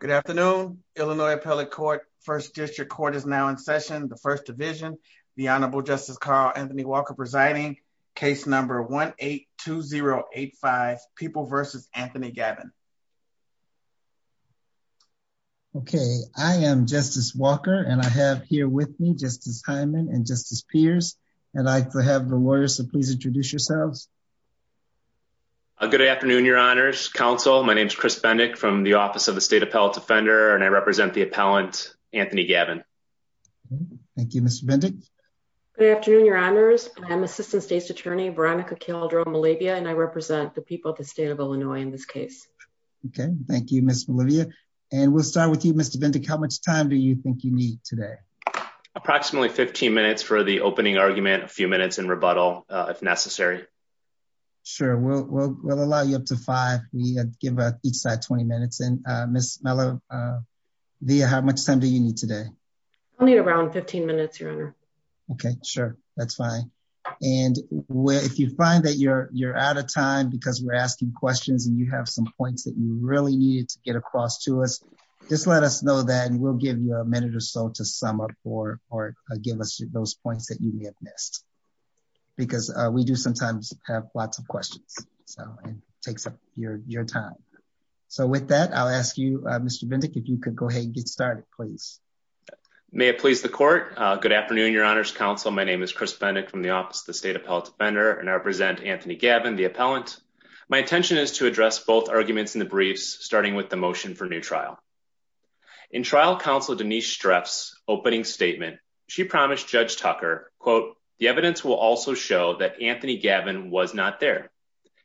Good afternoon, Illinois Appellate Court, 1st District Court is now in session, the 1st Division, the Honorable Justice Carl Anthony Walker presiding, case number 1-8-2-0-8-5, People v. Anthony Gavin. Okay, I am Justice Walker and I have here with me Justice Hyman and Justice Pierce, and I have the lawyers, so please introduce yourselves. Good afternoon, Your Honors. Counsel, my name is Chris Bendick from the Office of the State Appellate Defender, and I represent the appellant, Anthony Gavin. Thank you, Mr. Bendick. Good afternoon, Your Honors. I am Assistant State's Attorney, Veronica Kildrell-Malabia, and I represent the people of the State of Illinois in this case. Okay, thank you, Ms. Malabia. And we'll start with you, Mr. Bendick. How much time do you think you need today? Approximately 15 minutes for the opening argument, a few minutes in rebuttal, if necessary. Sure, we'll allow you up to five. We give each side 20 minutes. And Ms. Malabia, how much time do you need today? Only around 15 minutes, Your Honor. Okay, sure, that's fine. And if you find that you're out of time because we're asking questions and you have some points that you really need to get across to us, just let us know that and we'll give you a minute or so to sum up or give us those points that you may have missed. Because we do sometimes have lots of questions, so it takes up your time. So with that, I'll ask you, Mr. Bendick, if you could go ahead and get started, please. May it please the Court. Good afternoon, Your Honor's Counsel. My name is Chris Bendick from the Office of the State Appellate Defender, and I represent Anthony Gavin, the appellant. My intention is to address both arguments in the briefs, starting with the motion for new trial. In trial counsel Denise Streff's opening statement, she promised Judge Tucker, quote, the evidence will also show that Anthony Gavin was not there.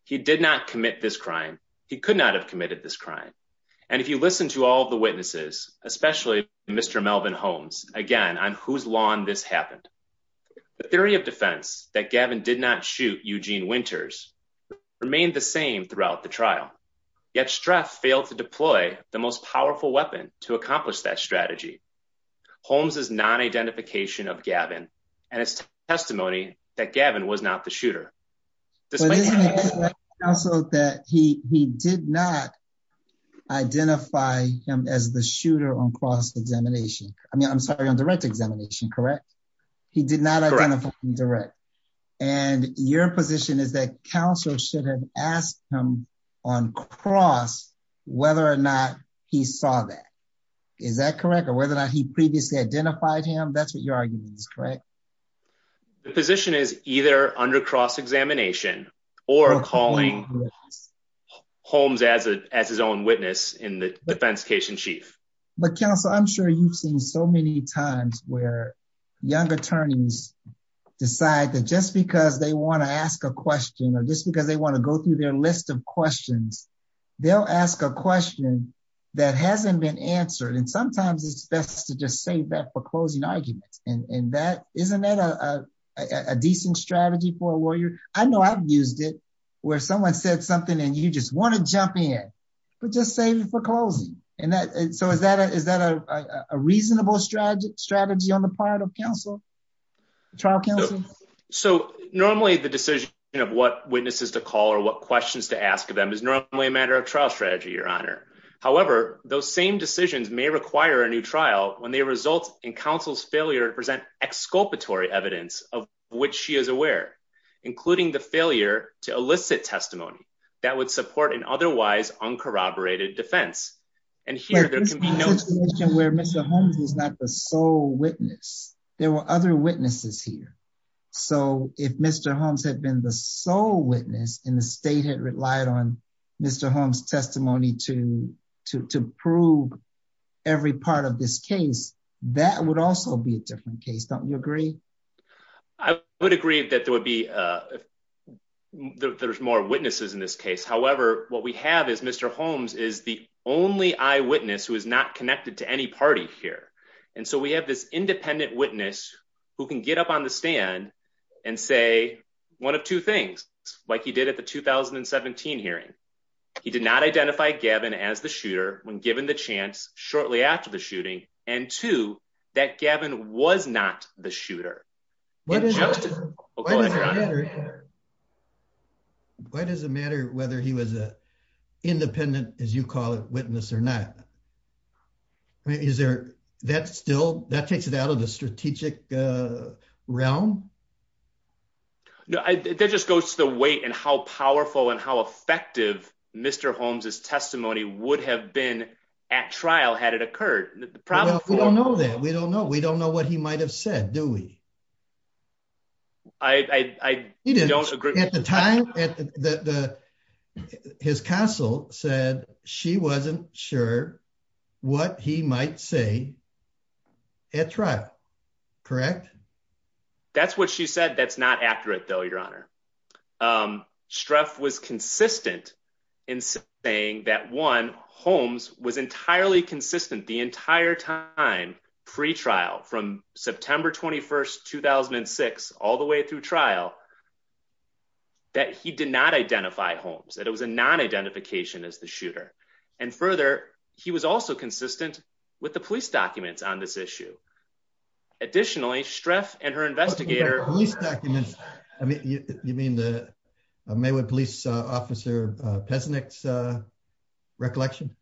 He did not commit this crime. He could not have committed this crime. And if you listen to all the witnesses, especially Mr. Melvin Holmes, again, on whose lawn this happened. The theory of defense that Gavin did not shoot Eugene Winters remained the same throughout the trial, yet Streff failed to deploy the most powerful weapon to accomplish that strategy. Holmes' non-identification of Gavin and his testimony that Gavin was not the shooter. Counsel that he did not identify him as the shooter on cross examination. I mean, I'm sorry, on direct examination, correct? He did not identify him direct. And your position is that counsel should have asked him on cross whether or not he saw that. Is that correct? Or whether or not he previously identified him? That's what your argument is, correct? The position is either under cross examination or calling Holmes as his own witness in the defense case in chief. But counsel, I'm sure you've seen so many times where young attorneys decide that just because they want to ask a question or just because they want to go through their list of questions. They'll ask a question that hasn't been answered. And sometimes it's best to just save that for closing arguments. And that isn't that a decent strategy for a lawyer? I know I've used it where someone said something and you just want to jump in, but just save it for closing. And so is that a reasonable strategy on the part of counsel? So normally the decision of what witnesses to call or what questions to ask them is normally a matter of trial strategy, Your Honor. However, those same decisions may require a new trial when they result in counsel's failure to present exculpatory evidence of which she is aware, including the failure to elicit testimony that would support an otherwise uncorroborated defense. But this is a situation where Mr. Holmes is not the sole witness. There were other witnesses here. So if Mr. Holmes had been the sole witness and the state had relied on Mr. Holmes' testimony to prove every part of this case, that would also be a different case. Don't you agree? I would agree that there's more witnesses in this case. However, what we have is Mr. Holmes is the only eyewitness who is not connected to any party here. And so we have this independent witness who can get up on the stand and say one of two things, like he did at the 2017 hearing. He did not identify Gavin as the shooter when given the chance shortly after the shooting. And two, that Gavin was not the shooter. Why does it matter whether he was an independent, as you call it, witness or not? That takes it out of the strategic realm? No, that just goes to the weight and how powerful and how effective Mr. Holmes' testimony would have been at trial had it occurred. We don't know that. We don't know. We don't know what he might have said, do we? I don't agree. At the time, his counsel said she wasn't sure what he might say at trial. Correct? That's what she said. That's not accurate, though, Your Honor. Streff was consistent in saying that, one, Holmes was entirely consistent the entire time pre-trial from September 21st, 2006, all the way through trial, that he did not identify Holmes, that it was a non-identification as the shooter. And further, he was also consistent with the police documents on this issue. Additionally, Streff and her investigator... Police documents? You mean the Maywood police officer Pesnik's recollection?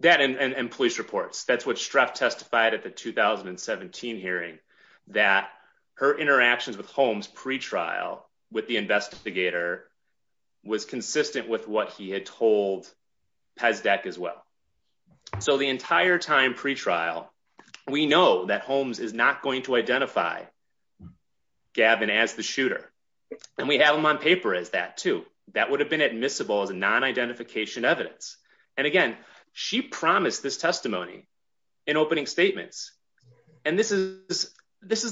That and police reports. That's what Streff testified at the 2017 hearing, that her interactions with Holmes pre-trial with the investigator was consistent with what he had told Pesnik as well. So the entire time pre-trial, we know that Holmes is not going to identify Gavin as the shooter. And we have him on paper as that, too. That would have been admissible as a non-identification evidence. And again, she promised this testimony in opening statements. And this is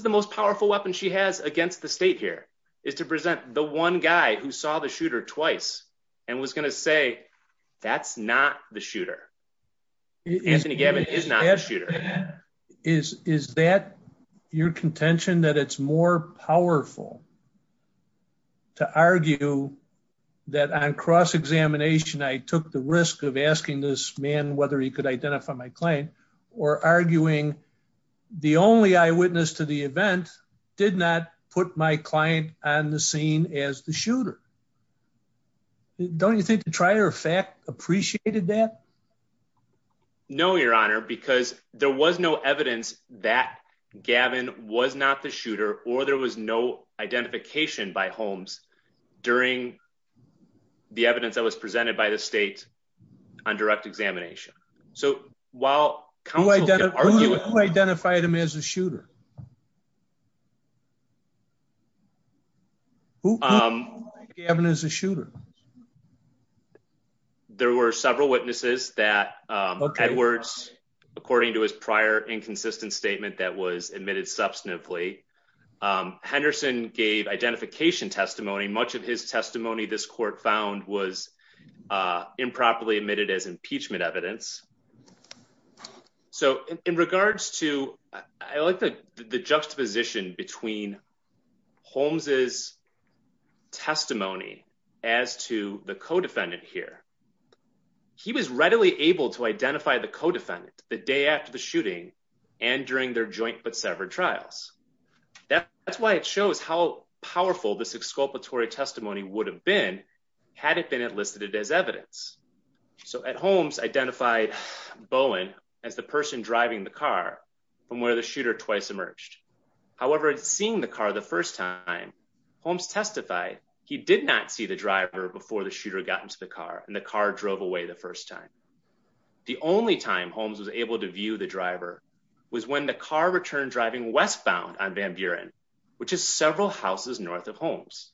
the most powerful weapon she has against the state here, is to present the one guy who saw the shooter twice and was going to say, that's not the shooter. Anthony Gavin is not the shooter. Is that your contention, that it's more powerful to argue that on cross-examination, I took the risk of asking this man whether he could identify my client or arguing the only eyewitness to the event did not put my client on the scene as the shooter? Don't you think the trier of fact appreciated that? No, Your Honor, because there was no evidence that Gavin was not the shooter, or there was no identification by Holmes during the evidence that was presented by the state on direct examination. So while counsel can argue- Who identified him as a shooter? Who identified Gavin as a shooter? There were several witnesses that Edwards, according to his prior inconsistent statement that was admitted substantively, Henderson gave identification testimony. Much of his testimony this court found was improperly admitted as impeachment evidence. So in regards to, I like the juxtaposition between Holmes' testimony as to the co-defendant here. He was readily able to identify the co-defendant the day after the shooting and during their joint but severed trials. That's why it shows how powerful this exculpatory testimony would have been, had it been enlisted as evidence. So Holmes identified Bowen as the person driving the car from where the shooter twice emerged. However, seeing the car the first time, Holmes testified he did not see the driver before the shooter got into the car and the car drove away the first time. The only time Holmes was able to view the driver was when the car returned driving westbound on Van Buren, which is several houses north of Holmes.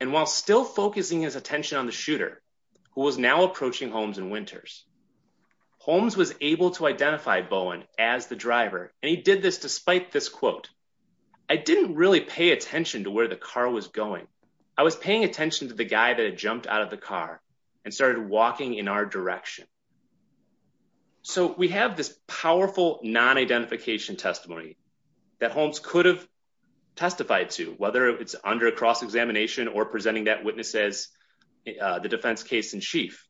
And while still focusing his attention on the shooter, who was now approaching Holmes and Winters, Holmes was able to identify Bowen as the driver. And he did this despite this quote, I didn't really pay attention to where the car was going. I was paying attention to the guy that had jumped out of the car and started walking in our direction. So we have this powerful non-identification testimony that Holmes could have testified to, whether it's under a cross-examination or presenting that witness as the defense case in chief.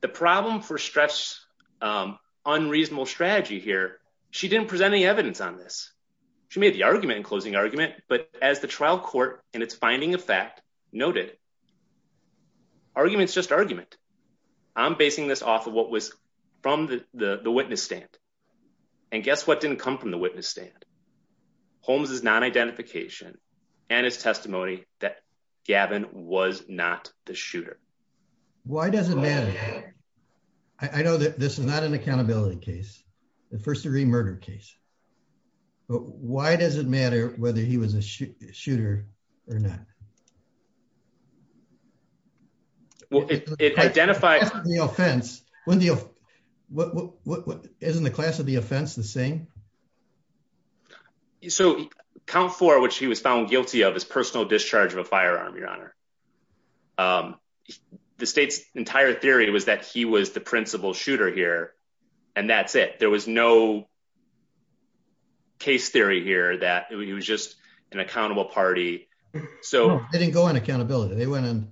The problem for Streff's unreasonable strategy here, she didn't present any evidence on this. She made the argument in closing argument, but as the trial court and its finding of fact noted, argument's just argument. I'm basing this off of what was from the witness stand. And guess what didn't come from the witness stand? Holmes' non-identification and his testimony that Gavin was not the shooter. Why does it matter? I know that this is not an accountability case. The first degree murder case. But why does it matter whether he was a shooter or not? Well, it identifies the offense. Isn't the class of the offense the same? So count for which he was found guilty of his personal discharge of a firearm, your honor. The state's entire theory was that he was the principal shooter here. And that's it. There was no case theory here that he was just an accountable party. So they didn't go on accountability. They went in.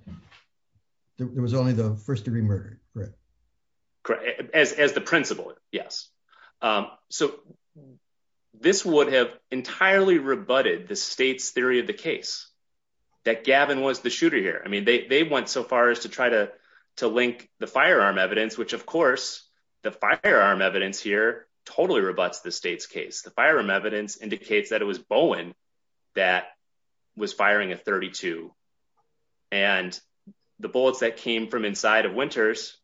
There was only the first degree murder. As the principal. Yes. So this would have entirely rebutted the state's theory of the case that Gavin was the shooter here. I mean, they went so far as to try to to link the firearm evidence, which, of course, the firearm evidence here totally rebuts the state's case. The firearm evidence indicates that it was Bowen that was firing a 32. And the bullets that came from inside of Winters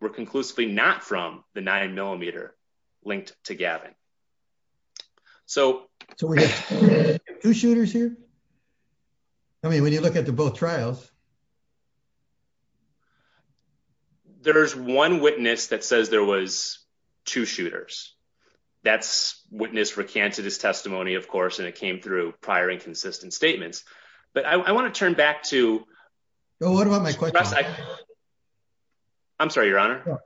were conclusively not from the nine millimeter linked to Gavin. So two shooters here. I mean, when you look at the both trials. There's one witness that says there was two shooters. That's witness recanted his testimony, of course, and it came through prior inconsistent statements. But I want to turn back to know what about my question. I'm sorry, Your Honor.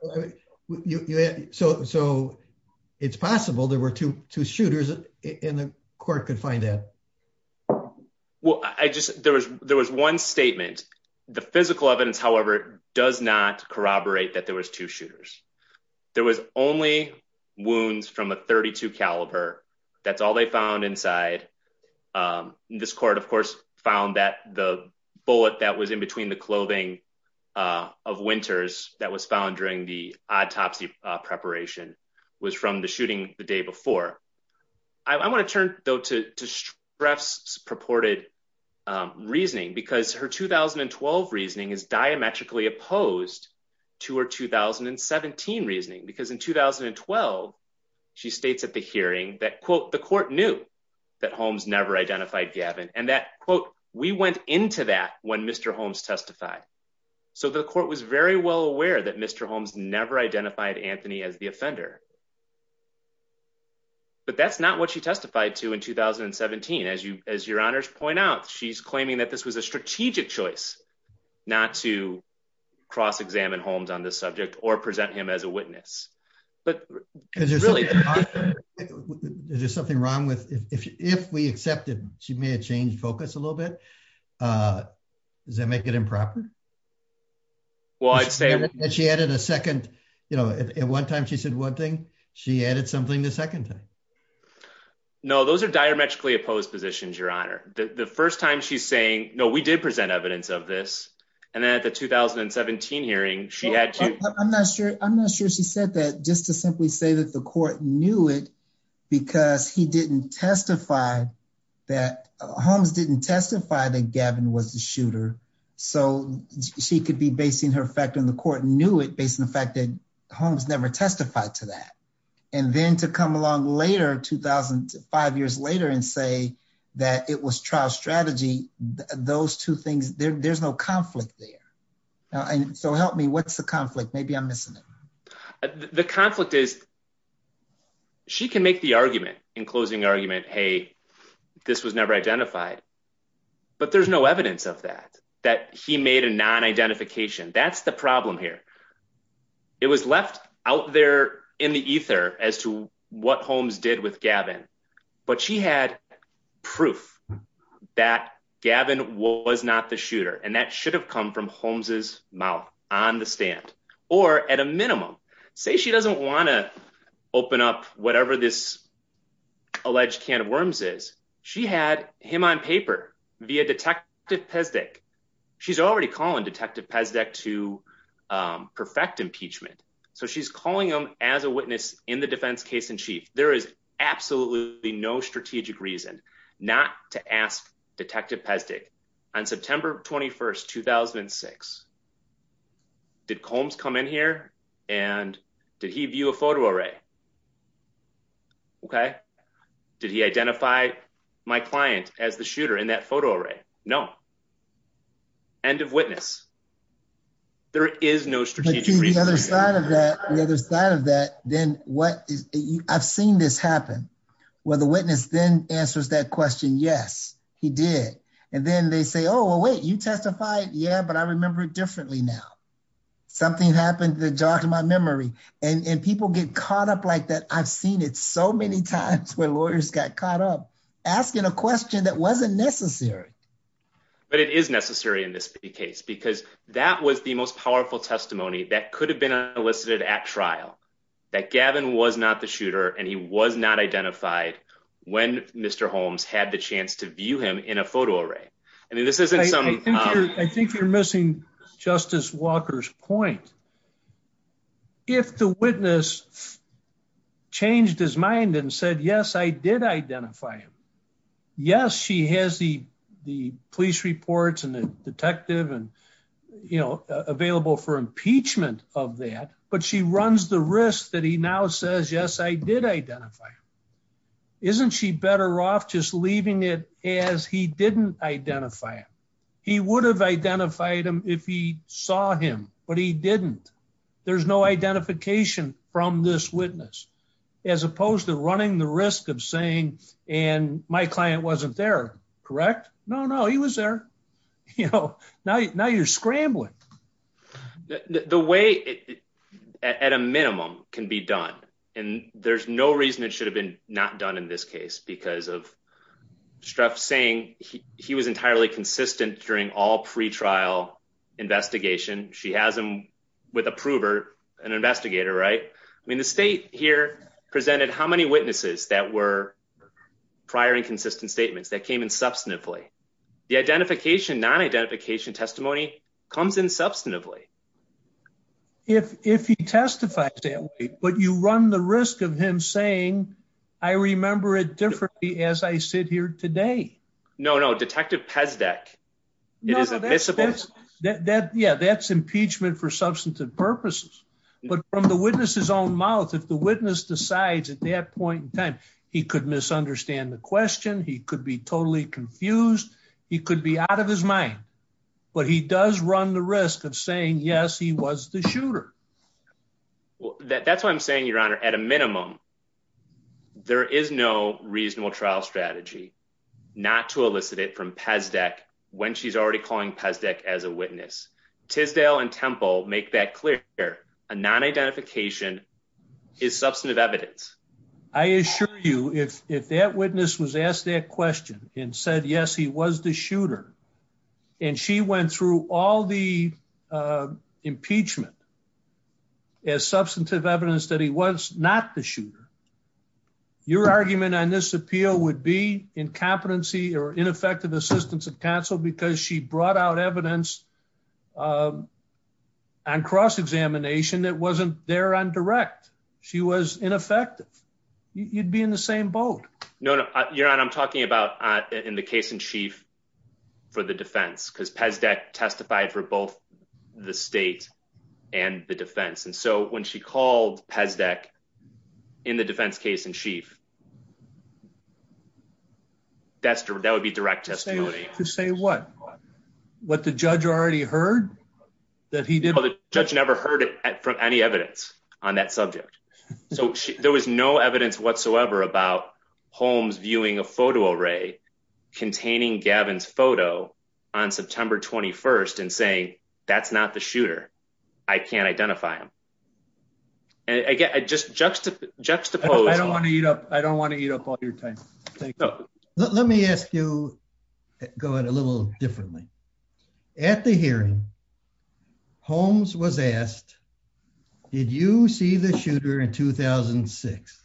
So it's possible there were two two shooters in the court could find that. Well, I just there was there was one statement. The physical evidence, however, does not corroborate that there was two shooters. There was only wounds from a 32 caliber. That's all they found inside. This court, of course, found that the bullet that was in between the clothing of Winters that was found during the autopsy preparation was from the shooting the day before. I want to turn, though, to stress purported reasoning, because her 2012 reasoning is diametrically opposed to her 2017 reasoning, because in 2012, she states at the hearing that, quote, the court knew that Holmes never identified Gavin and that, quote, we went into that when Mr. Holmes testified. So the court was very well aware that Mr. Holmes never identified Anthony as the offender. But that's not what she testified to in 2017. As you as your honors point out, she's claiming that this was a strategic choice not to cross examine Holmes on this subject or present him as a witness. But there's really there's something wrong with if we accepted she may have changed focus a little bit. Does that make it improper? Well, I'd say that she added a second. You know, at one time, she said one thing. She added something the second time. No, those are diametrically opposed positions, Your Honor. The first time she's saying, no, we did present evidence of this. And then at the 2017 hearing, she had to. I'm not sure. I'm not sure. She said that just to simply say that the court knew it because he didn't testify that Holmes didn't testify that Gavin was the shooter. So she could be basing her fact in the court knew it based on the fact that Holmes never testified to that. And then to come along later, 2005 years later and say that it was trial strategy. Those two things. There's no conflict there. So help me. What's the conflict? Maybe I'm missing it. The conflict is. She can make the argument in closing argument. Hey, this was never identified. But there's no evidence of that, that he made a non-identification. That's the problem here. It was left out there in the ether as to what Holmes did with Gavin. But she had proof that Gavin was not the shooter. And that should have come from Holmes's mouth on the stand. Or at a minimum, say she doesn't want to open up whatever this alleged can of worms is. She had him on paper via Detective Pesdek. She's already calling Detective Pesdek to perfect impeachment. So she's calling him as a witness in the defense case in chief. There is absolutely no strategic reason not to ask Detective Pesdek on September 21st, 2006. Did Combs come in here and did he view a photo array? Okay. Did he identify my client as the shooter in that photo array? No. End of witness. There is no strategic reason. On the other side of that, I've seen this happen. Where the witness then answers that question, yes, he did. And then they say, oh, wait, you testified? Yeah, but I remember it differently now. Something happened that jogged my memory. And people get caught up like that. I've seen it so many times where lawyers got caught up asking a question that wasn't necessary. But it is necessary in this case. Because that was the most powerful testimony that could have been elicited at trial. That Gavin was not the shooter and he was not identified when Mr. Holmes had the chance to view him in a photo array. I think you're missing Justice Walker's point. If the witness changed his mind and said, yes, I did identify him. Yes, she has the police reports and the detective and, you know, available for impeachment of that. But she runs the risk that he now says, yes, I did identify him. Isn't she better off just leaving it as he didn't identify him? He would have identified him if he saw him. But he didn't. There's no identification from this witness. As opposed to running the risk of saying, and my client wasn't there, correct? No, no, he was there. Now you're scrambling. The way, at a minimum, can be done. And there's no reason it should have been not done in this case. Because of Strzok saying he was entirely consistent during all pre-trial investigation. She has him with a prover, an investigator, right? I mean, the state here presented how many witnesses that were prior and consistent statements that came in substantively. The identification, non-identification testimony comes in substantively. If he testifies that way, but you run the risk of him saying, I remember it differently as I sit here today. No, no, Detective Pezdek. It is admissible. Yeah, that's impeachment for substantive purposes. But from the witness's own mouth, if the witness decides at that point in time, he could misunderstand the question. He could be totally confused. He could be out of his mind. But he does run the risk of saying, yes, he was the shooter. That's what I'm saying, Your Honor. At a minimum, there is no reasonable trial strategy not to elicit it from Pezdek when she's already calling Pezdek as a witness. Tisdale and Temple make that clear. A non-identification is substantive evidence. I assure you, if that witness was asked that question and said, yes, he was the shooter. And she went through all the impeachment as substantive evidence that he was not the shooter. Your argument on this appeal would be incompetency or ineffective assistance of counsel because she brought out evidence on cross-examination that wasn't there on direct. She was ineffective. You'd be in the same boat. No, Your Honor. I'm talking about in the case in chief for the defense because Pezdek testified for both the state and the defense. And so when she called Pezdek in the defense case in chief, that would be direct testimony. To say what? What the judge already heard that he did? The judge never heard it from any evidence on that subject. So there was no evidence whatsoever about Holmes viewing a photo array containing Gavin's photo on September 21st and saying, that's not the shooter. I can't identify him. And again, I just juxtapose. I don't want to eat up. I don't want to eat up all your time. Let me ask you, go ahead a little differently. At the hearing, Holmes was asked, did you see the shooter in 2006?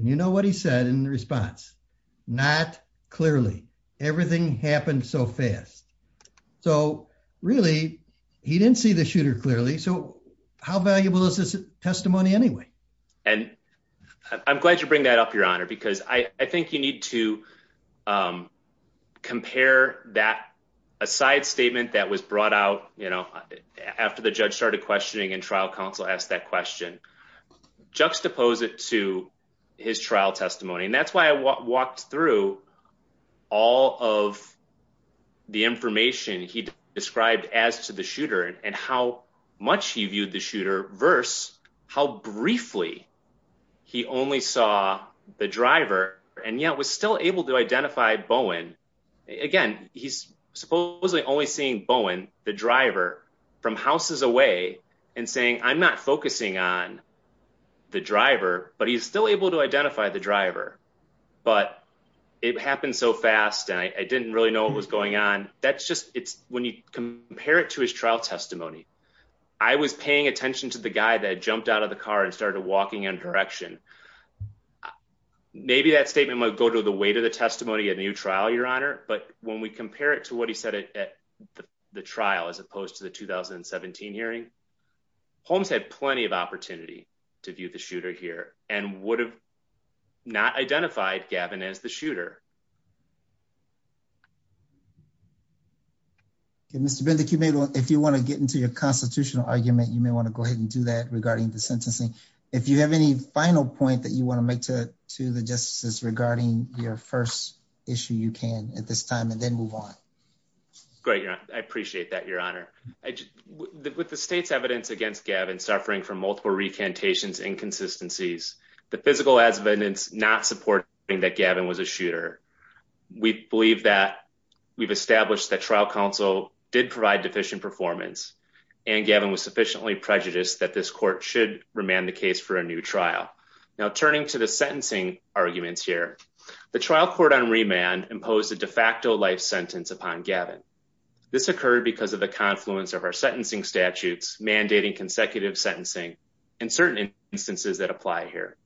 You know what he said in response? Not clearly. Everything happened so fast. So really, he didn't see the shooter clearly. So how valuable is this testimony anyway? And I'm glad you bring that up, Your Honor, because I think you need to compare that aside statement that was brought out, you know, after the judge started questioning and trial counsel asked that question. Juxtapose it to his trial testimony, and that's why I walked through all of the information he described as to the shooter and how much he viewed the shooter versus how briefly he only saw the driver and yet was still able to identify Bowen. Again, he's supposedly only seeing Bowen, the driver, from houses away and saying, I'm not focusing on the driver, but he's still able to identify the driver. But it happened so fast, and I didn't really know what was going on. That's just, when you compare it to his trial testimony, I was paying attention to the guy that jumped out of the car and started walking in a direction. Maybe that statement might go to the weight of the testimony at a new trial, Your Honor, but when we compare it to what he said at the trial, as opposed to the 2017 hearing, Holmes had plenty of opportunity to view the shooter here and would have not identified Gavin as the shooter. Mr. Bendick, if you want to get into your constitutional argument, you may want to go ahead and do that regarding the sentencing. If you have any final point that you want to make to the justices regarding your first issue, you can at this time and then move on. Great. I appreciate that, Your Honor. With the state's evidence against Gavin suffering from multiple recantations inconsistencies, the physical evidence does not support that Gavin was a shooter. We believe that we've established that trial counsel did provide deficient performance and Gavin was sufficiently prejudiced that this court should remand the case for a new trial. Now, turning to the sentencing arguments here, the trial court on remand imposed a de facto life sentence upon Gavin. This occurred because of the confluence of our sentencing statutes, mandating consecutive sentencing, and certain instances that apply here.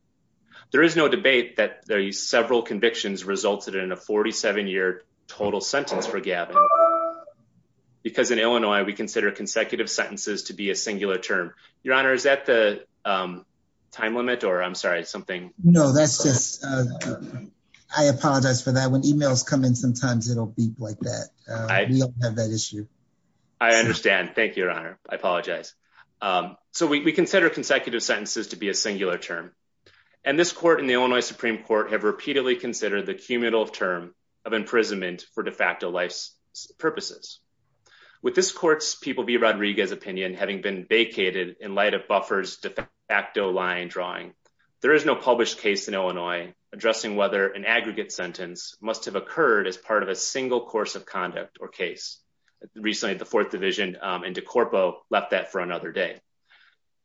There is no debate that the several convictions resulted in a 47-year total sentence for Gavin, because in Illinois, we consider consecutive sentences to be a singular term. Your Honor, is that the time limit or I'm sorry, something? No, that's just, I apologize for that. When emails come in, sometimes it'll beep like that. We don't have that issue. I understand. Thank you, Your Honor. I apologize. So we consider consecutive sentences to be a singular term. And this court in the Illinois Supreme Court have repeatedly considered the cumulative term of imprisonment for de facto life's purposes. With this court's People v. Rodriguez opinion having been vacated in light of Buffer's de facto line drawing, there is no published case in Illinois addressing whether an aggregate sentence must have occurred as part of a single course of conduct or case. Recently, the Fourth Division and De Corpo left that for another day.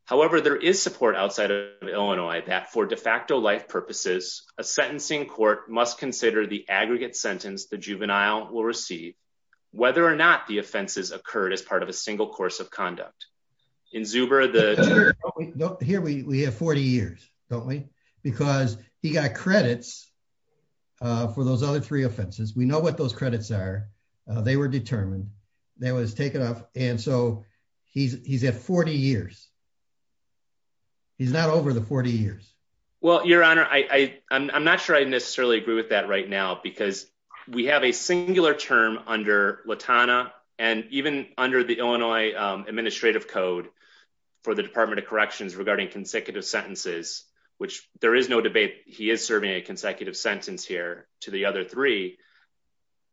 However, there is support outside of Illinois that for de facto life purposes, a sentencing court must consider the aggregate sentence the juvenile will receive, whether or not the offenses occurred as part of a single course of conduct. Here we have 40 years, don't we? Because he got credits for those other three offenses. We know what those credits are. They were determined. They was taken off. And so he's at 40 years. He's not over the 40 years. Well, Your Honor, I'm not sure I necessarily agree with that right now because we have a singular term under Latana and even under the Illinois Administrative Code for the Department of Corrections regarding consecutive sentences, which there is no debate. He is serving a consecutive sentence here to the other three.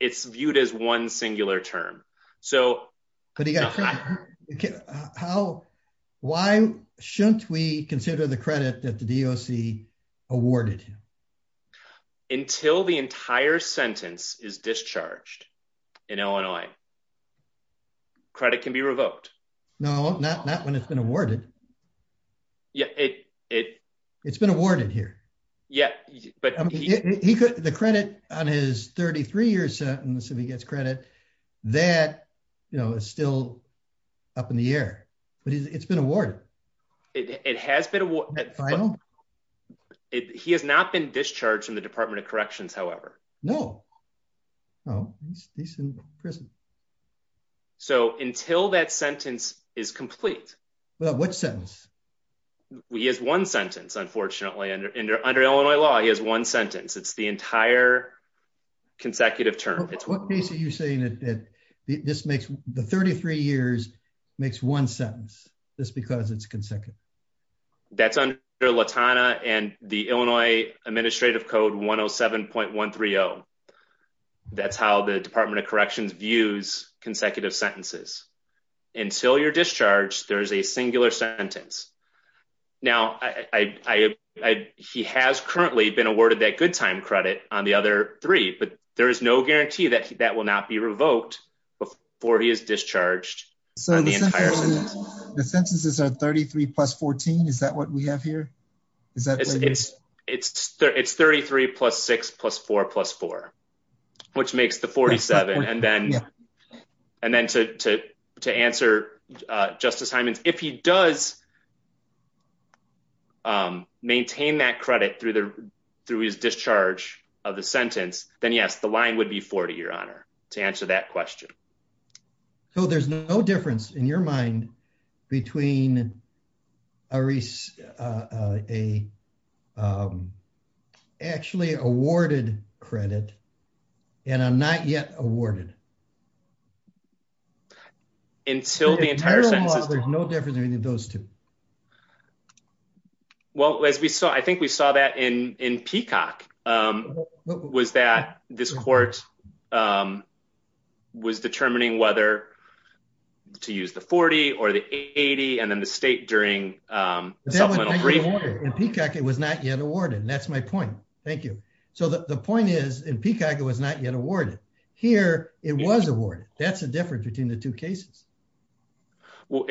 It's viewed as one singular term. But he got credit. Why shouldn't we consider the credit that the DOC awarded him? Until the entire sentence is discharged in Illinois, credit can be revoked. No, not when it's been awarded. It's been awarded here. The credit on his 33 year sentence, if he gets credit, that is still up in the air. But it's been awarded. It has been awarded. He has not been discharged from the Department of Corrections, however. No. He's in prison. So until that sentence is complete. What sentence? He has one sentence, unfortunately. Under Illinois law, he has one sentence. It's the entire consecutive term. What case are you saying that the 33 years makes one sentence just because it's consecutive? That's under Latana and the Illinois Administrative Code 107.130. That's how the Department of Corrections views consecutive sentences. Until you're discharged, there's a singular sentence. Now, he has currently been awarded that good time credit on the other three. But there is no guarantee that that will not be revoked before he is discharged on the entire sentence. The sentences are 33 plus 14? Is that what we have here? It's 33 plus 6 plus 4 plus 4, which makes the 47. And then to answer Justice Hyman's, if he does maintain that credit through his discharge of the sentence, then yes, the line would be 40, Your Honor, to answer that question. So there's no difference in your mind between a actually awarded credit and a not yet awarded? Until the entire sentence is done. There's no difference between those two. Well, as we saw, I think we saw that in Peacock, was that this court was determining whether to use the 40 or the 80. And then the state during Peacock, it was not yet awarded. And that's my point. Thank you. So the point is, in Peacock, it was not yet awarded. Here it was awarded. That's the difference between the two cases. Well,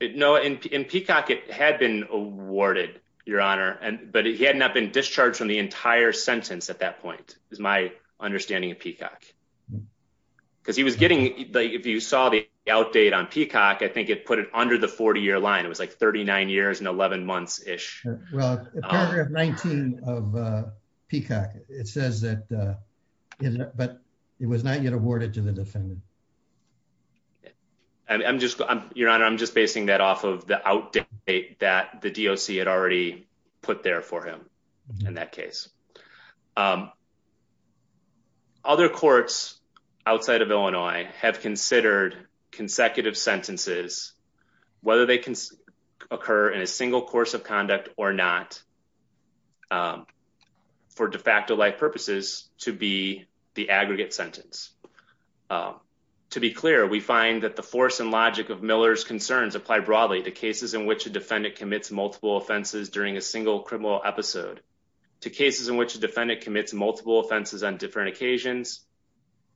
no, in Peacock, it had been awarded, Your Honor. But he had not been discharged from the entire sentence at that point, is my understanding of Peacock. Because he was getting, if you saw the outdate on Peacock, I think it put it under the 40-year line. It was like 39 years and 11 months-ish. Well, paragraph 19 of Peacock, it says that, but it was not yet awarded to the defendant. Your Honor, I'm just basing that off of the outdate that the DOC had already put there for him in that case. Other courts outside of Illinois have considered consecutive sentences, whether they occur in a single course of conduct or not, for de facto-like purposes, to be the aggregate sentence. To be clear, we find that the force and logic of Miller's concerns apply broadly to cases in which a defendant commits multiple offenses during a single criminal episode, to cases in which a defendant commits multiple offenses on different occasions,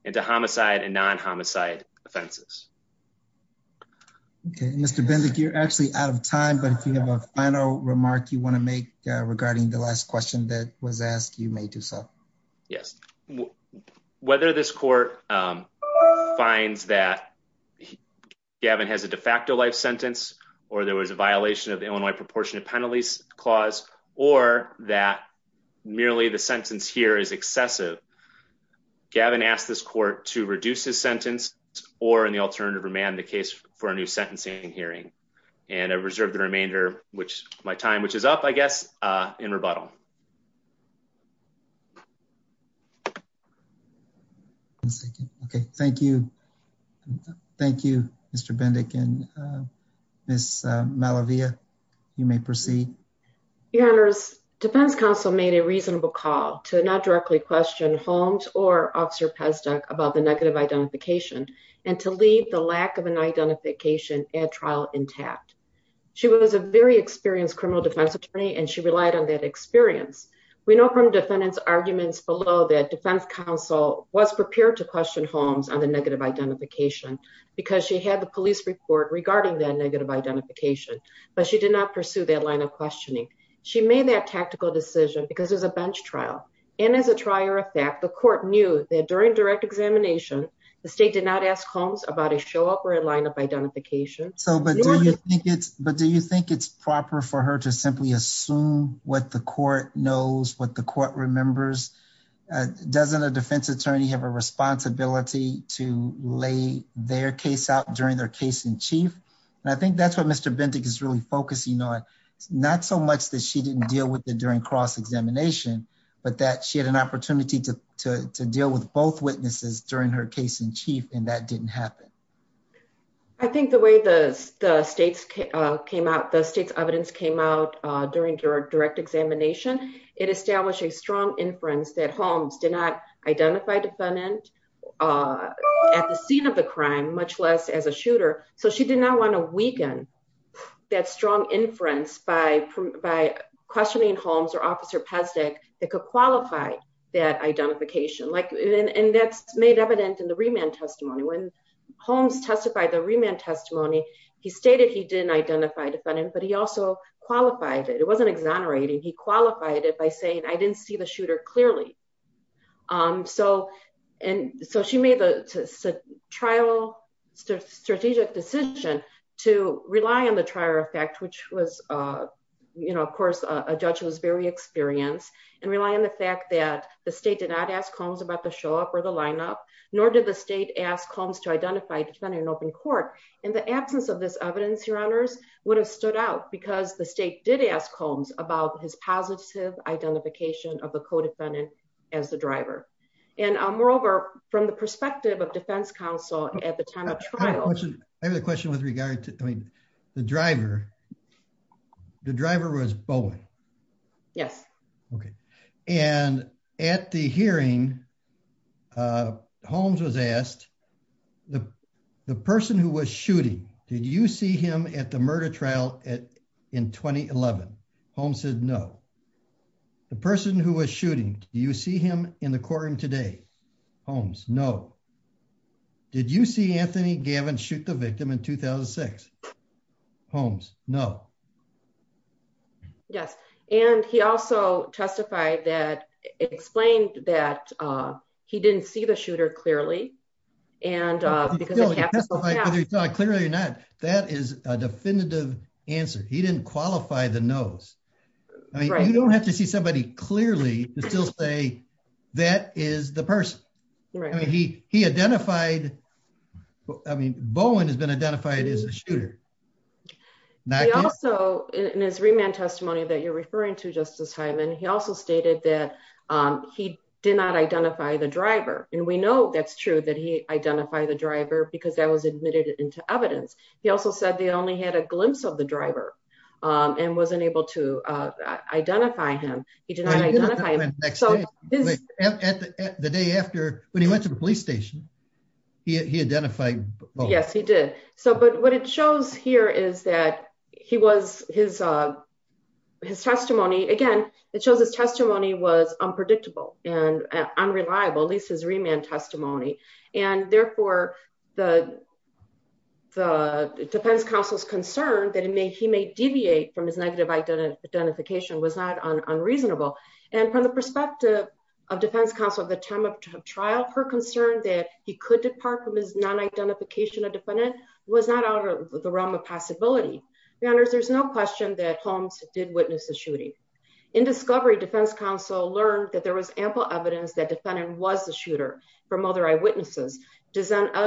and to homicide and non-homicide offenses. Mr. Bendik, you're actually out of time, but if you have a final remark you want to make regarding the last question that was asked, you may do so. Yes. Whether this court finds that Gavin has a de facto life sentence, or there was a violation of the Illinois Proportionate Penalties Clause, or that merely the sentence here is excessive, Gavin asked this court to reduce his sentence or, in the alternative, remand the case for a new sentencing hearing. And I reserve the remainder of my time, which is up, I guess, in rebuttal. One second. Okay, thank you. Thank you, Mr. Bendik, and Ms. Malavia, you may proceed. Your Honors, Defense Counsel made a reasonable call to not directly question Holmes or Officer Pezduk about the negative identification and to leave the lack of an identification at trial intact. She was a very experienced criminal defense attorney, and she relied on that experience. We know from defendants' arguments below that Defense Counsel was prepared to question Holmes on the negative identification because she had the police report regarding that negative identification, but she did not pursue that line of questioning. She made that tactical decision because it was a bench trial, and as a trier of fact, the court knew that during direct examination, the state did not ask Holmes about a show-up or a line of identification. But do you think it's proper for her to simply assume what the court knows, what the court remembers? Doesn't a defense attorney have a responsibility to lay their case out during their case-in-chief? And I think that's what Mr. Bendik is really focusing on, not so much that she didn't deal with it during cross-examination, but that she had an opportunity to deal with both witnesses during her case-in-chief, and that didn't happen. I think the way the state's evidence came out during direct examination, it established a strong inference that Holmes did not identify a defendant at the scene of the crime, much less as a shooter. So she did not want to weaken that strong inference by questioning Holmes or Officer Pezdek that could qualify that identification. And that's made evident in the remand testimony. When Holmes testified the remand testimony, he stated he didn't identify a defendant, but he also qualified it. It wasn't exonerating. He qualified it by saying, I didn't see the shooter clearly. So she made the trial strategic decision to rely on the trial effect, which was, of course, a judge who was very experienced, and rely on the fact that the state did not ask Holmes about the show-up or the lineup, nor did the state ask Holmes to identify a defendant in open court. And the absence of this evidence, your honors, would have stood out because the state did ask Holmes about his positive identification of the co-defendant as the driver. And moreover, from the perspective of defense counsel at the time of trial. I have a question with regard to the driver. The driver was Bowen. Yes. Okay. And at the hearing, Holmes was asked, the person who was shooting, did you see him at the murder trial in 2011? Holmes said no. The person who was shooting, do you see him in the courtroom today? Holmes, no. Did you see Anthony Gavin shoot the victim in 2006? Holmes, no. Yes. And he also testified that, explained that he didn't see the shooter clearly. And because it happened. Whether he saw it clearly or not, that is a definitive answer. He didn't qualify the nose. You don't have to see somebody clearly to still say that is the person. Right. He identified, I mean, Bowen has been identified as a shooter. He also, in his remand testimony that you're referring to Justice Hyman, he also stated that he did not identify the driver. And we know that's true that he identified the driver because that was admitted into evidence. He also said they only had a glimpse of the driver and wasn't able to identify him. He did not identify him. The day after, when he went to the police station, he identified Bowen. Yes, he did. But what it shows here is that he was, his testimony, again, it shows his testimony was unpredictable and unreliable, at least his remand testimony. And therefore, the defense counsel's concern that he may deviate from his negative identification was not unreasonable. And from the perspective of defense counsel at the time of trial, her concern that he could depart from his non-identification of defendant was not out of the realm of possibility. Your Honors, there's no question that Holmes did witness the shooting. In discovery, defense counsel learned that there was ample evidence that defendant was the shooter from other eyewitnesses. Denzel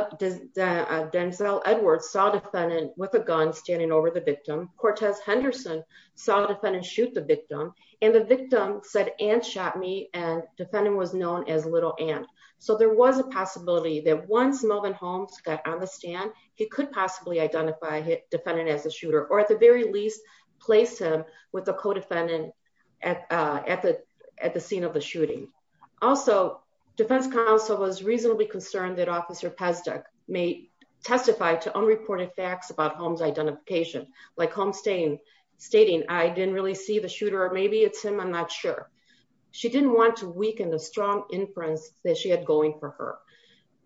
Edwards saw defendant with a gun standing over the victim. Cortez Henderson saw defendant shoot the victim. And the victim said, and shot me. And defendant was known as Little Ant. So there was a possibility that once Melvin Holmes got on the stand, he could possibly identify defendant as a shooter, or at the very least, place him with a co-defendant at the scene of the shooting. Also, defense counsel was reasonably concerned that Officer Pesduch may testify to unreported facts about Holmes' identification, like Holmes stating, I didn't really see the shooter. Maybe it's him, I'm not sure. She didn't want to weaken the strong inference that she had going for her.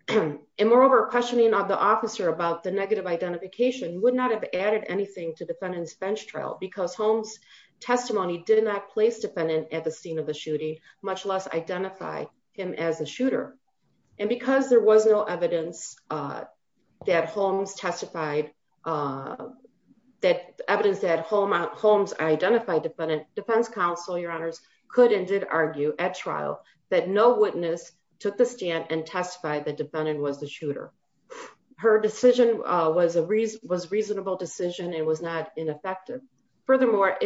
And moreover, questioning of the officer about the negative identification would not have added anything to defendant's bench trial because Holmes' testimony did not place defendant at the scene of the shooting, much less identify him as a shooter. And because there was no evidence that Holmes testified, evidence that Holmes identified defendant, defense counsel, your honors, could and did argue at trial that no witness took the stand and testified that defendant was the shooter. Her decision was a reasonable decision and was not ineffective. Furthermore,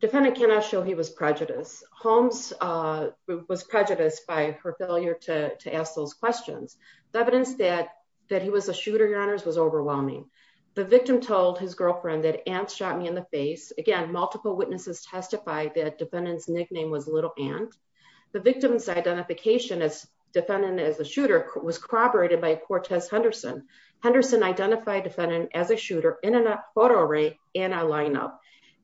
defendant cannot show he was prejudiced. Holmes was prejudiced by her failure to ask those questions. The evidence that he was a shooter, your honors, was overwhelming. The victim told his girlfriend that Ant shot me in the face. Again, multiple witnesses testified that defendant's nickname was Little Ant. The victim's identification as defendant as a shooter was corroborated by Cortez Henderson. Henderson identified defendant as a shooter in a photo array and a lineup.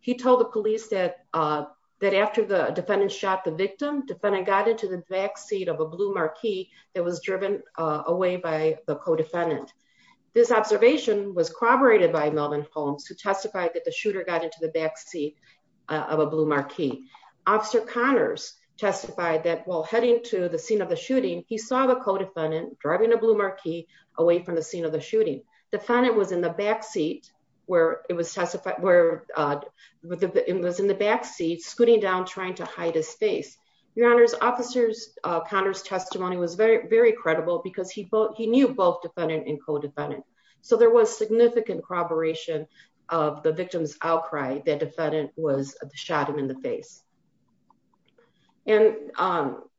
He told the police that after the defendant shot the victim, defendant got into the backseat of a blue marquee that was driven away by the co-defendant. This observation was corroborated by Melvin Holmes who testified that the shooter got into the backseat of a blue marquee. Officer Connors testified that while heading to the scene of the shooting, he saw the co-defendant driving a blue marquee away from the scene of the shooting. Defendant was in the backseat where it was in the backseat scooting down trying to hide his face. Your honors, officers, Connors testimony was very, very credible because he knew both defendant and co-defendant. So there was significant corroboration of the victim's outcry that defendant was shot him in the face. And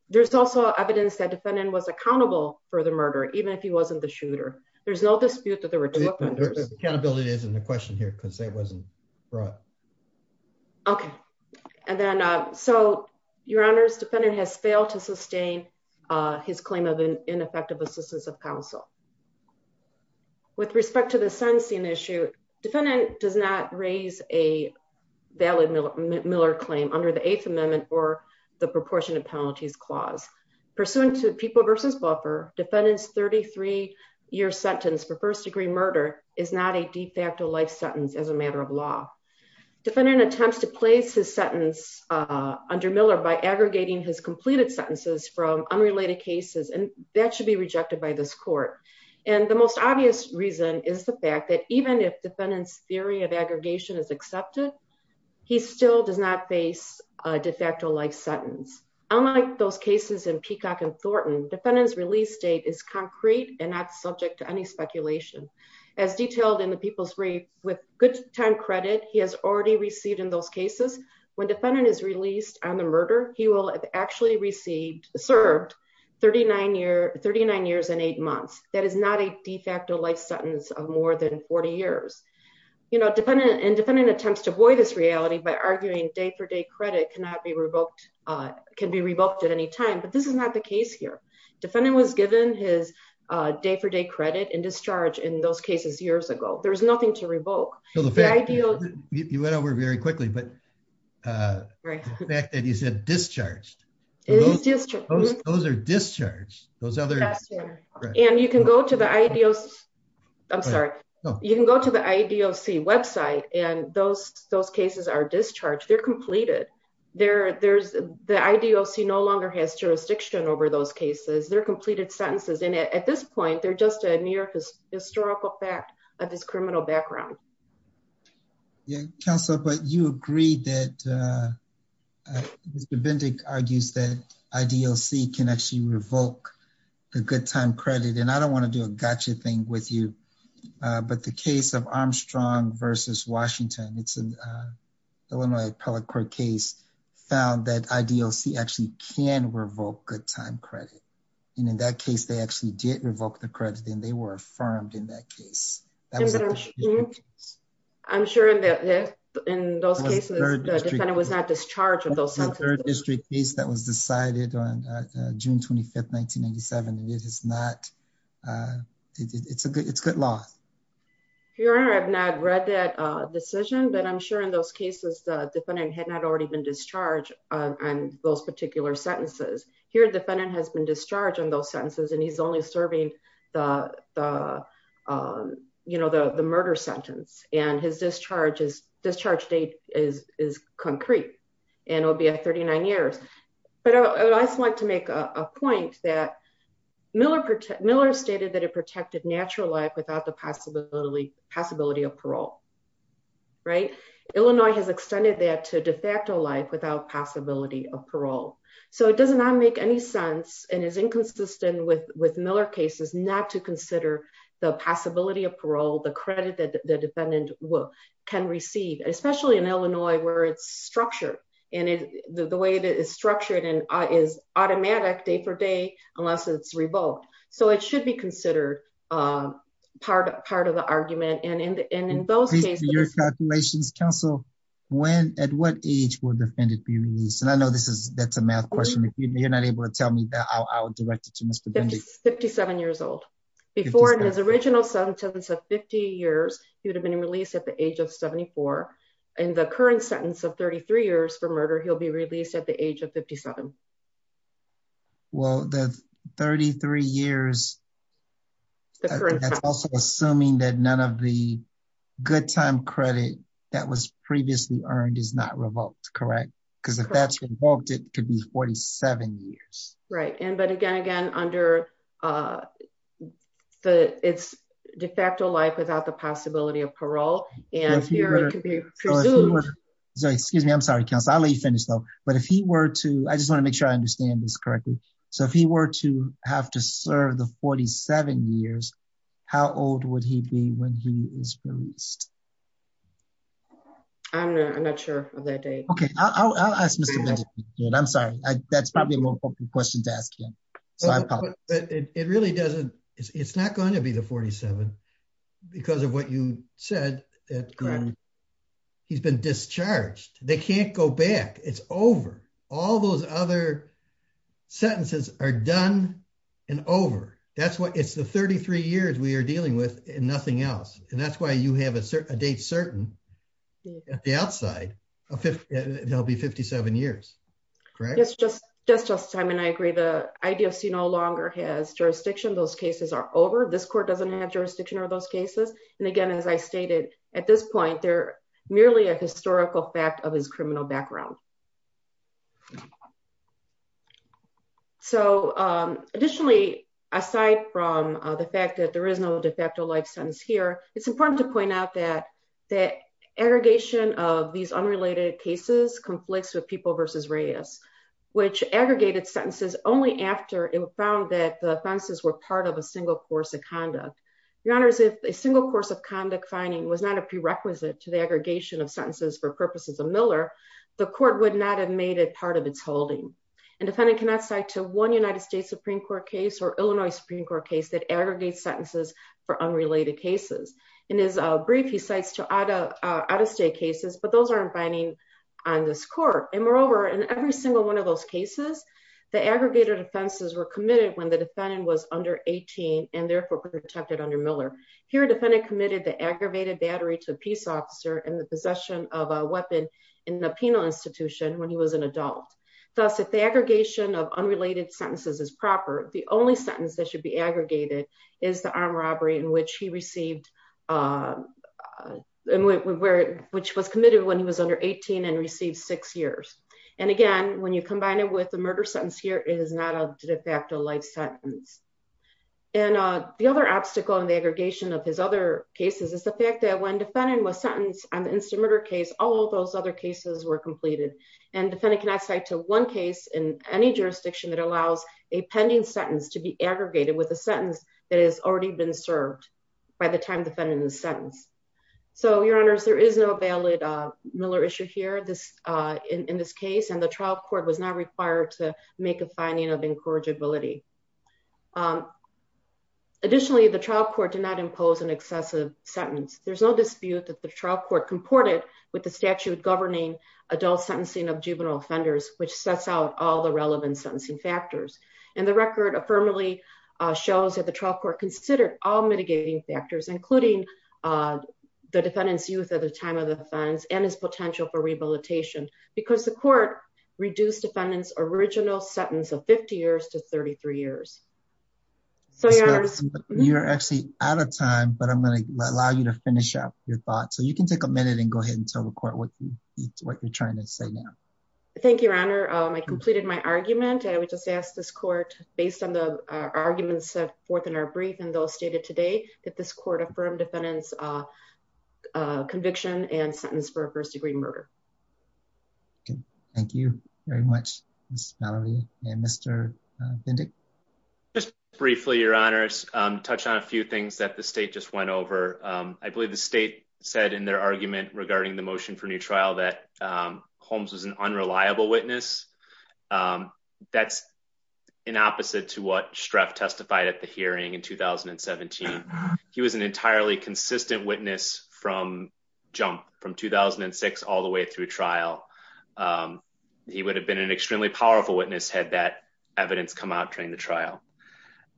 there's also evidence that defendant was accountable for the murder, even if he wasn't the shooter. There's no dispute that there were two offenders. Accountability isn't a question here because it wasn't brought. OK, and then so your honors, defendant has failed to sustain his claim of ineffective assistance of counsel. With respect to the Sunstein issue, defendant does not raise a valid Miller claim under the Eighth Amendment or the proportionate penalties clause. Pursuant to people versus buffer defendants, 33 year sentence for first degree murder is not a de facto life sentence as a matter of law. Defendant attempts to place his sentence under Miller by aggregating his completed sentences from unrelated cases. And that should be rejected by this court. And the most obvious reason is the fact that even if defendants theory of aggregation is accepted, he still does not face a de facto life sentence. Unlike those cases in Peacock and Thornton, defendant's release date is concrete and not subject to any speculation. As detailed in the People's Brief, with good time credit, he has already received in those cases. When defendant is released on the murder, he will have actually received served 39 years, 39 years and eight months. That is not a de facto life sentence of more than 40 years. You know, defendant and defendant attempts to avoid this reality by arguing day for day credit cannot be revoked, can be revoked at any time. But this is not the case here. Defendant was given his day for day credit and discharge in those cases years ago. There's nothing to revoke. You went over very quickly, but the fact that you said discharged, those are discharged. And you can go to the IDEOC, I'm sorry. You can go to the IDEOC website and those cases are discharged, they're completed. There's the IDEOC no longer has jurisdiction over those cases, they're completed sentences. And at this point, they're just a near historical fact of this criminal background. Counselor, but you agreed that Mr. Bindig argues that IDEOC can actually revoke the good time credit and I don't want to do a gotcha thing with you. But the case of Armstrong versus Washington, it's an Illinois appellate court case found that IDEOC actually can revoke good time credit. And in that case, they actually did revoke the credit and they were affirmed in that case. I'm sure that in those cases, the defendant was not discharged in those sentences. That was the third district case that was decided on June 25, 1997. It is not, it's good law. Your Honor, I have not read that decision, but I'm sure in those cases, the defendant had not already been discharged on those particular sentences. Here, defendant has been discharged on those sentences and he's only serving the, you know, the murder sentence and his discharge date is concrete. And it'll be a 39 years. But I just want to make a point that Miller stated that it protected natural life without the possibility of parole. Right? Illinois has extended that to de facto life without possibility of parole. So it does not make any sense and is inconsistent with Miller cases not to consider the possibility of parole, the credit that the defendant can receive, especially in Illinois where it's structured. And the way that it's structured is automatic day for day, unless it's revoked. So it should be considered part of the argument. Based on your calculations, counsel, when, at what age will the defendant be released? And I know this is, that's a math question. If you're not able to tell me that I'll direct it to Mr. 57 years old. Before his original sentence of 50 years, he would have been released at the age of 74. In the current sentence of 33 years for murder, he'll be released at the age of 57. Well, the 33 years. That's also assuming that none of the good time credit that was previously earned is not revoked. Correct. Because if that's revoked, it could be 47 years. Right. And but again, again, under the it's de facto life without the possibility of parole. So, excuse me, I'm sorry, I'll let you finish though. But if he were to, I just want to make sure I understand this correctly. So if he were to have to serve the 47 years. How old would he be when he is released. I'm not sure of that day. Okay, I'll ask. I'm sorry, that's probably a question to ask him. It really doesn't. It's not going to be the 47. Because of what you said. He's been discharged. They can't go back. It's over. All those other sentences are done. And over. That's what it's the 33 years we are dealing with, and nothing else. And that's why you have a date certain the outside of it. He'll be 57 years. Yes, just just just Simon I agree the idea of see no longer has jurisdiction those cases are over this court doesn't have jurisdiction or those cases. And again, as I stated, at this point, they're merely a historical fact of his criminal background. So, additionally, aside from the fact that there is no de facto life sentence here, it's important to point out that that aggregation of these unrelated cases conflicts with people versus radius, which aggregated sentences, only after it was found that the was not a prerequisite to the aggregation of sentences for purposes of Miller, the court would not have made it part of its holding and defendant cannot say to one United States Supreme Court case or Illinois Supreme Court case that aggregates sentences for unrelated cases in his brief he cites to auto out of state cases but those aren't binding on this court, and moreover in every single one of those cases, the aggregated offenses were committed when the defendant was under 18, and therefore protected under Miller here committed the aggravated battery to a peace officer and the possession of a weapon in the penal institution when he was an adult. Thus if the aggregation of unrelated sentences is proper, the only sentence that should be aggregated is the armed robbery in which he received, which was committed when he was under 18 and received six years. And again, when you combine it with the murder sentence here is not a de facto life sentence. And the other obstacle in the aggregation of his other cases is the fact that when defendant was sentenced on the instant murder case all those other cases were completed and defendant cannot say to one case in any jurisdiction that allows a pending sentence to be aggregated with a sentence that has already been served by the time defending the sentence. So your honors there is no valid Miller issue here this in this case and the trial court was not required to make a finding of incorrigibility. Additionally, the trial court did not impose an excessive sentence, there's no dispute that the trial court comported with the statute governing adult sentencing of juvenile offenders, which sets out all the relevant sentencing factors, and the record affirmatively shows that the trial court considered all mitigating factors, including the defendant's youth at the time of the offense and his potential for rehabilitation, because the court reduced defendants original sentence of 50 years to 33 years. So you're actually out of time, but I'm going to allow you to finish up your thoughts so you can take a minute and go ahead and tell the court what you're trying to say now. Thank you, Your Honor, I completed my argument and we just asked this court, based on the arguments set forth in our brief and those stated today that this court affirmed defendants conviction and sentence for a first degree murder. Thank you very much, Mr. Mr. Just briefly, Your Honors, touch on a few things that the state just went over. I believe the state said in their argument regarding the motion for new trial that homes was an unreliable witness. That's an opposite to what strep testified at the hearing in 2017. He was an entirely consistent witness from jump from 2006 all the way through trial. He would have been an extremely powerful witness had that evidence come out during the trial.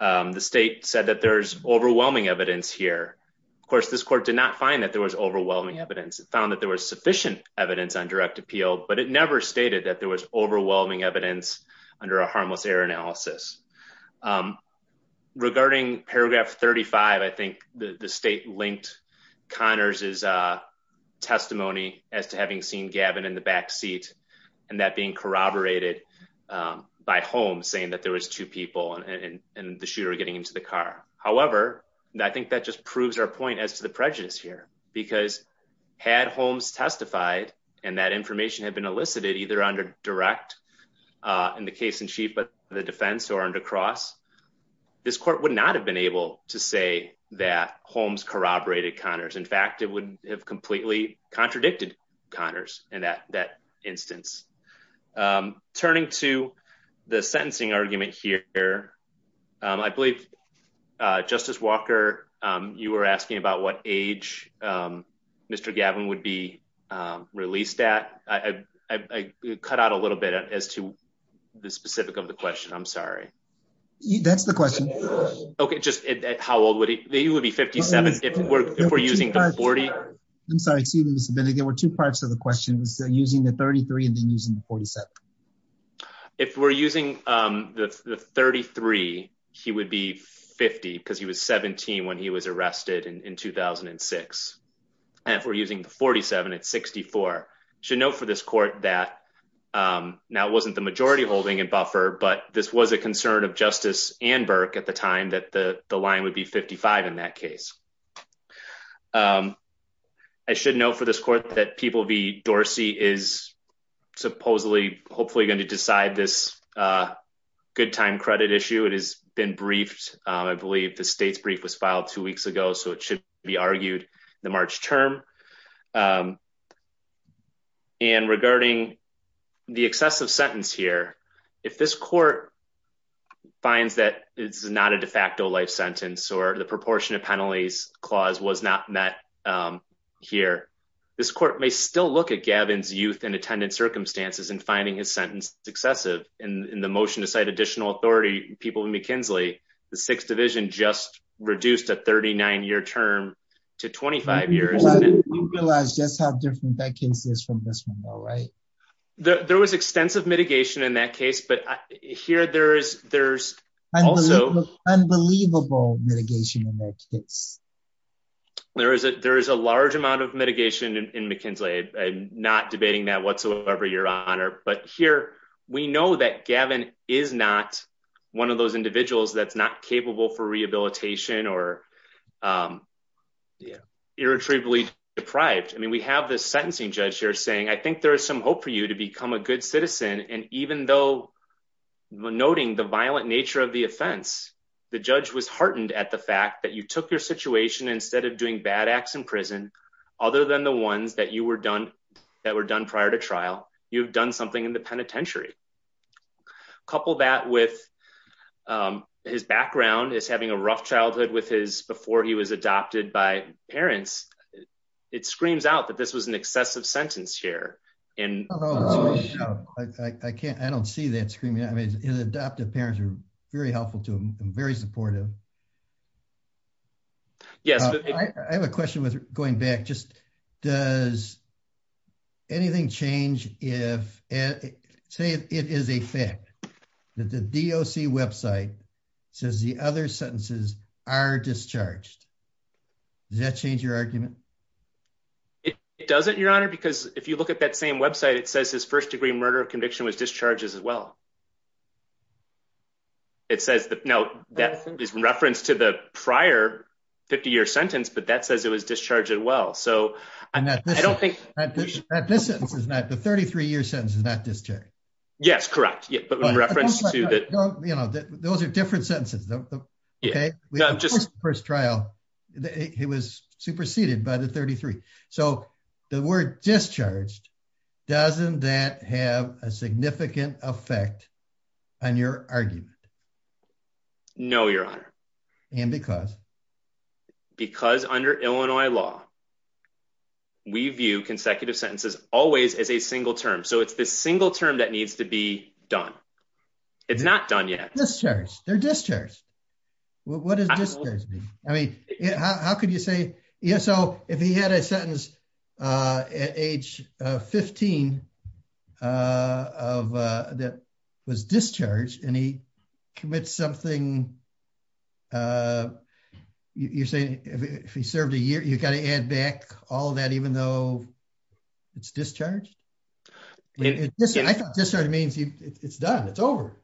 The state said that there's overwhelming evidence here. Of course, this court did not find that there was overwhelming evidence found that there was sufficient evidence on direct appeal, but it never stated that there was overwhelming evidence under a harmless error analysis. Regarding paragraph 35 I think the state linked Connors is a testimony as to having seen Gavin in the backseat, and that being corroborated by home saying that there was two people and the shooter getting into the car. However, I think that just proves our point as to the prejudice here, because had homes testified, and that information had been elicited either under direct in the case in chief, but the defense or under cross. This court would not have been able to say that homes corroborated Connors. In fact, it would have completely contradicted Connors, and that that instance. Turning to the sentencing argument here. I believe, Justice Walker, you were asking about what age. Mr. Gavin would be released at I cut out a little bit as to the specific of the question. I'm sorry. That's the question. Okay, just how old would he would be 57 if we're using 40. I'm sorry. There were two parts of the question was using the 33 and then using 47. If we're using the 33, he would be 50 because he was 17 when he was arrested in 2006. And if we're using the 47 at 64 should know for this court that now wasn't the majority holding and buffer, but this was a concern of justice and Burke at the time that the line would be 55 in that case. I should know for this court that people be Dorsey is supposedly hopefully going to decide this good time credit issue. It has been briefed. I believe the state's brief was filed two weeks ago, so it should be argued the March term. And regarding the excessive sentence here. If this court finds that it's not a de facto life sentence or the proportion of penalties clause was not met here. This court may still look at Gavin's youth and attendance circumstances and finding his sentence successive in the motion to cite additional authority people in McKinsey, the sixth division just reduced a 39 year term to 25 years. You realize just how different that case is from this one. All right. There was extensive mitigation in that case, but here there is there's also unbelievable mitigation in that case. There is a there is a large amount of mitigation in McKinsey. I'm not debating that whatsoever, Your Honor, but here we know that Gavin is not one of those individuals that's not capable for rehabilitation or Irretrievably deprived. I mean, we have this sentencing judge here saying, I think there is some hope for you to become a good citizen. And even though Noting the violent nature of the offense. The judge was heartened at the fact that you took your situation instead of doing bad acts in prison, other than the ones that you were done that were done prior to trial. You've done something in the penitentiary Couple that with His background is having a rough childhood with his before he was adopted by parents. It screams out that this was an excessive sentence here and I can't. I don't see that screaming. I mean, his adoptive parents are very helpful to him very supportive Yes, I have a question with going back just does Anything change if it say it is a fact that the DOC website says the other sentences are discharged. Does that change your argument. It doesn't, Your Honor, because if you look at that same website. It says his first degree murder conviction was discharges as well. It says that now that is in reference to the prior 50 year sentence, but that says it was discharging well so I don't think This is not the 33 year sentence is that this chair. Yes, correct. Yeah, but when reference to that. You know that those are different sentences. Just first trial. It was superseded by the 33 so the word discharged doesn't that have a significant effect on your argument. No, Your Honor. And because Because under Illinois law. We view consecutive sentences always as a single term. So it's this single term that needs to be done. It's not done yet. They're discharged. What does this mean, I mean, how could you say yeah so if he had a sentence at age 15 Of that was discharged and he commits something You're saying if he served a year, you got to add back all that even though it's discharged. This means it's done. It's over.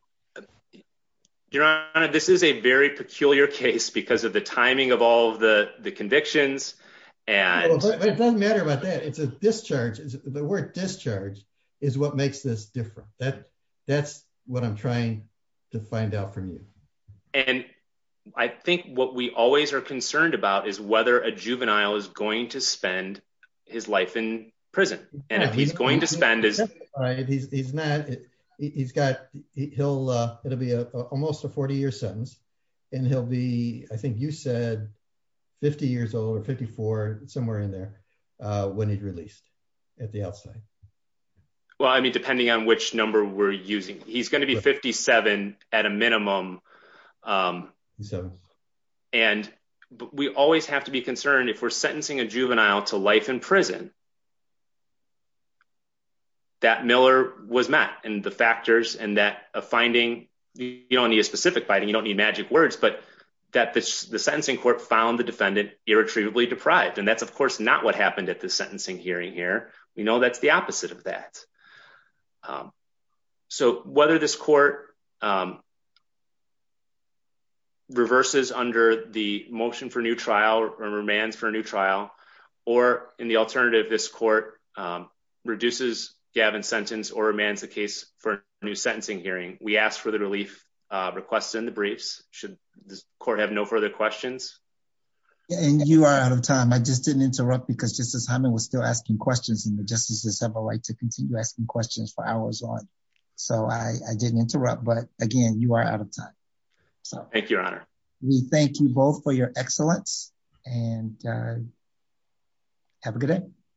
Your Honor, this is a very peculiar case because of the timing of all the the convictions and Doesn't matter about that. It's a discharge is the word discharge is what makes this different that that's what I'm trying to find out from you. And I think what we always are concerned about is whether a juvenile is going to spend his life in prison. And if he's going to spend his He's not he's got he'll, it'll be almost a 40 year sentence and he'll be, I think you said 50 years old or 54 somewhere in there when he'd released at the outside. Well, I mean, depending on which number we're using. He's going to be 57 at a minimum. So, and we always have to be concerned if we're sentencing a juvenile to life in prison. That Miller was met and the factors and that a finding you don't need a specific biting. You don't need magic words, but That the sentencing court found the defendant irretrievably deprived and that's of course not what happened at the sentencing hearing here. We know that's the opposite of that. So whether this court. reverses under the motion for new trial remains for a new trial or in the alternative this court reduces Gavin sentence or man's the case for new sentencing hearing we asked for the relief requests in the briefs should the court have no further questions. And you are out of time. I just didn't interrupt because just as I was still asking questions and the justices have a right to continue asking questions for hours on so I didn't interrupt. But again, you are out of time. Thank you. We thank you both for your excellence and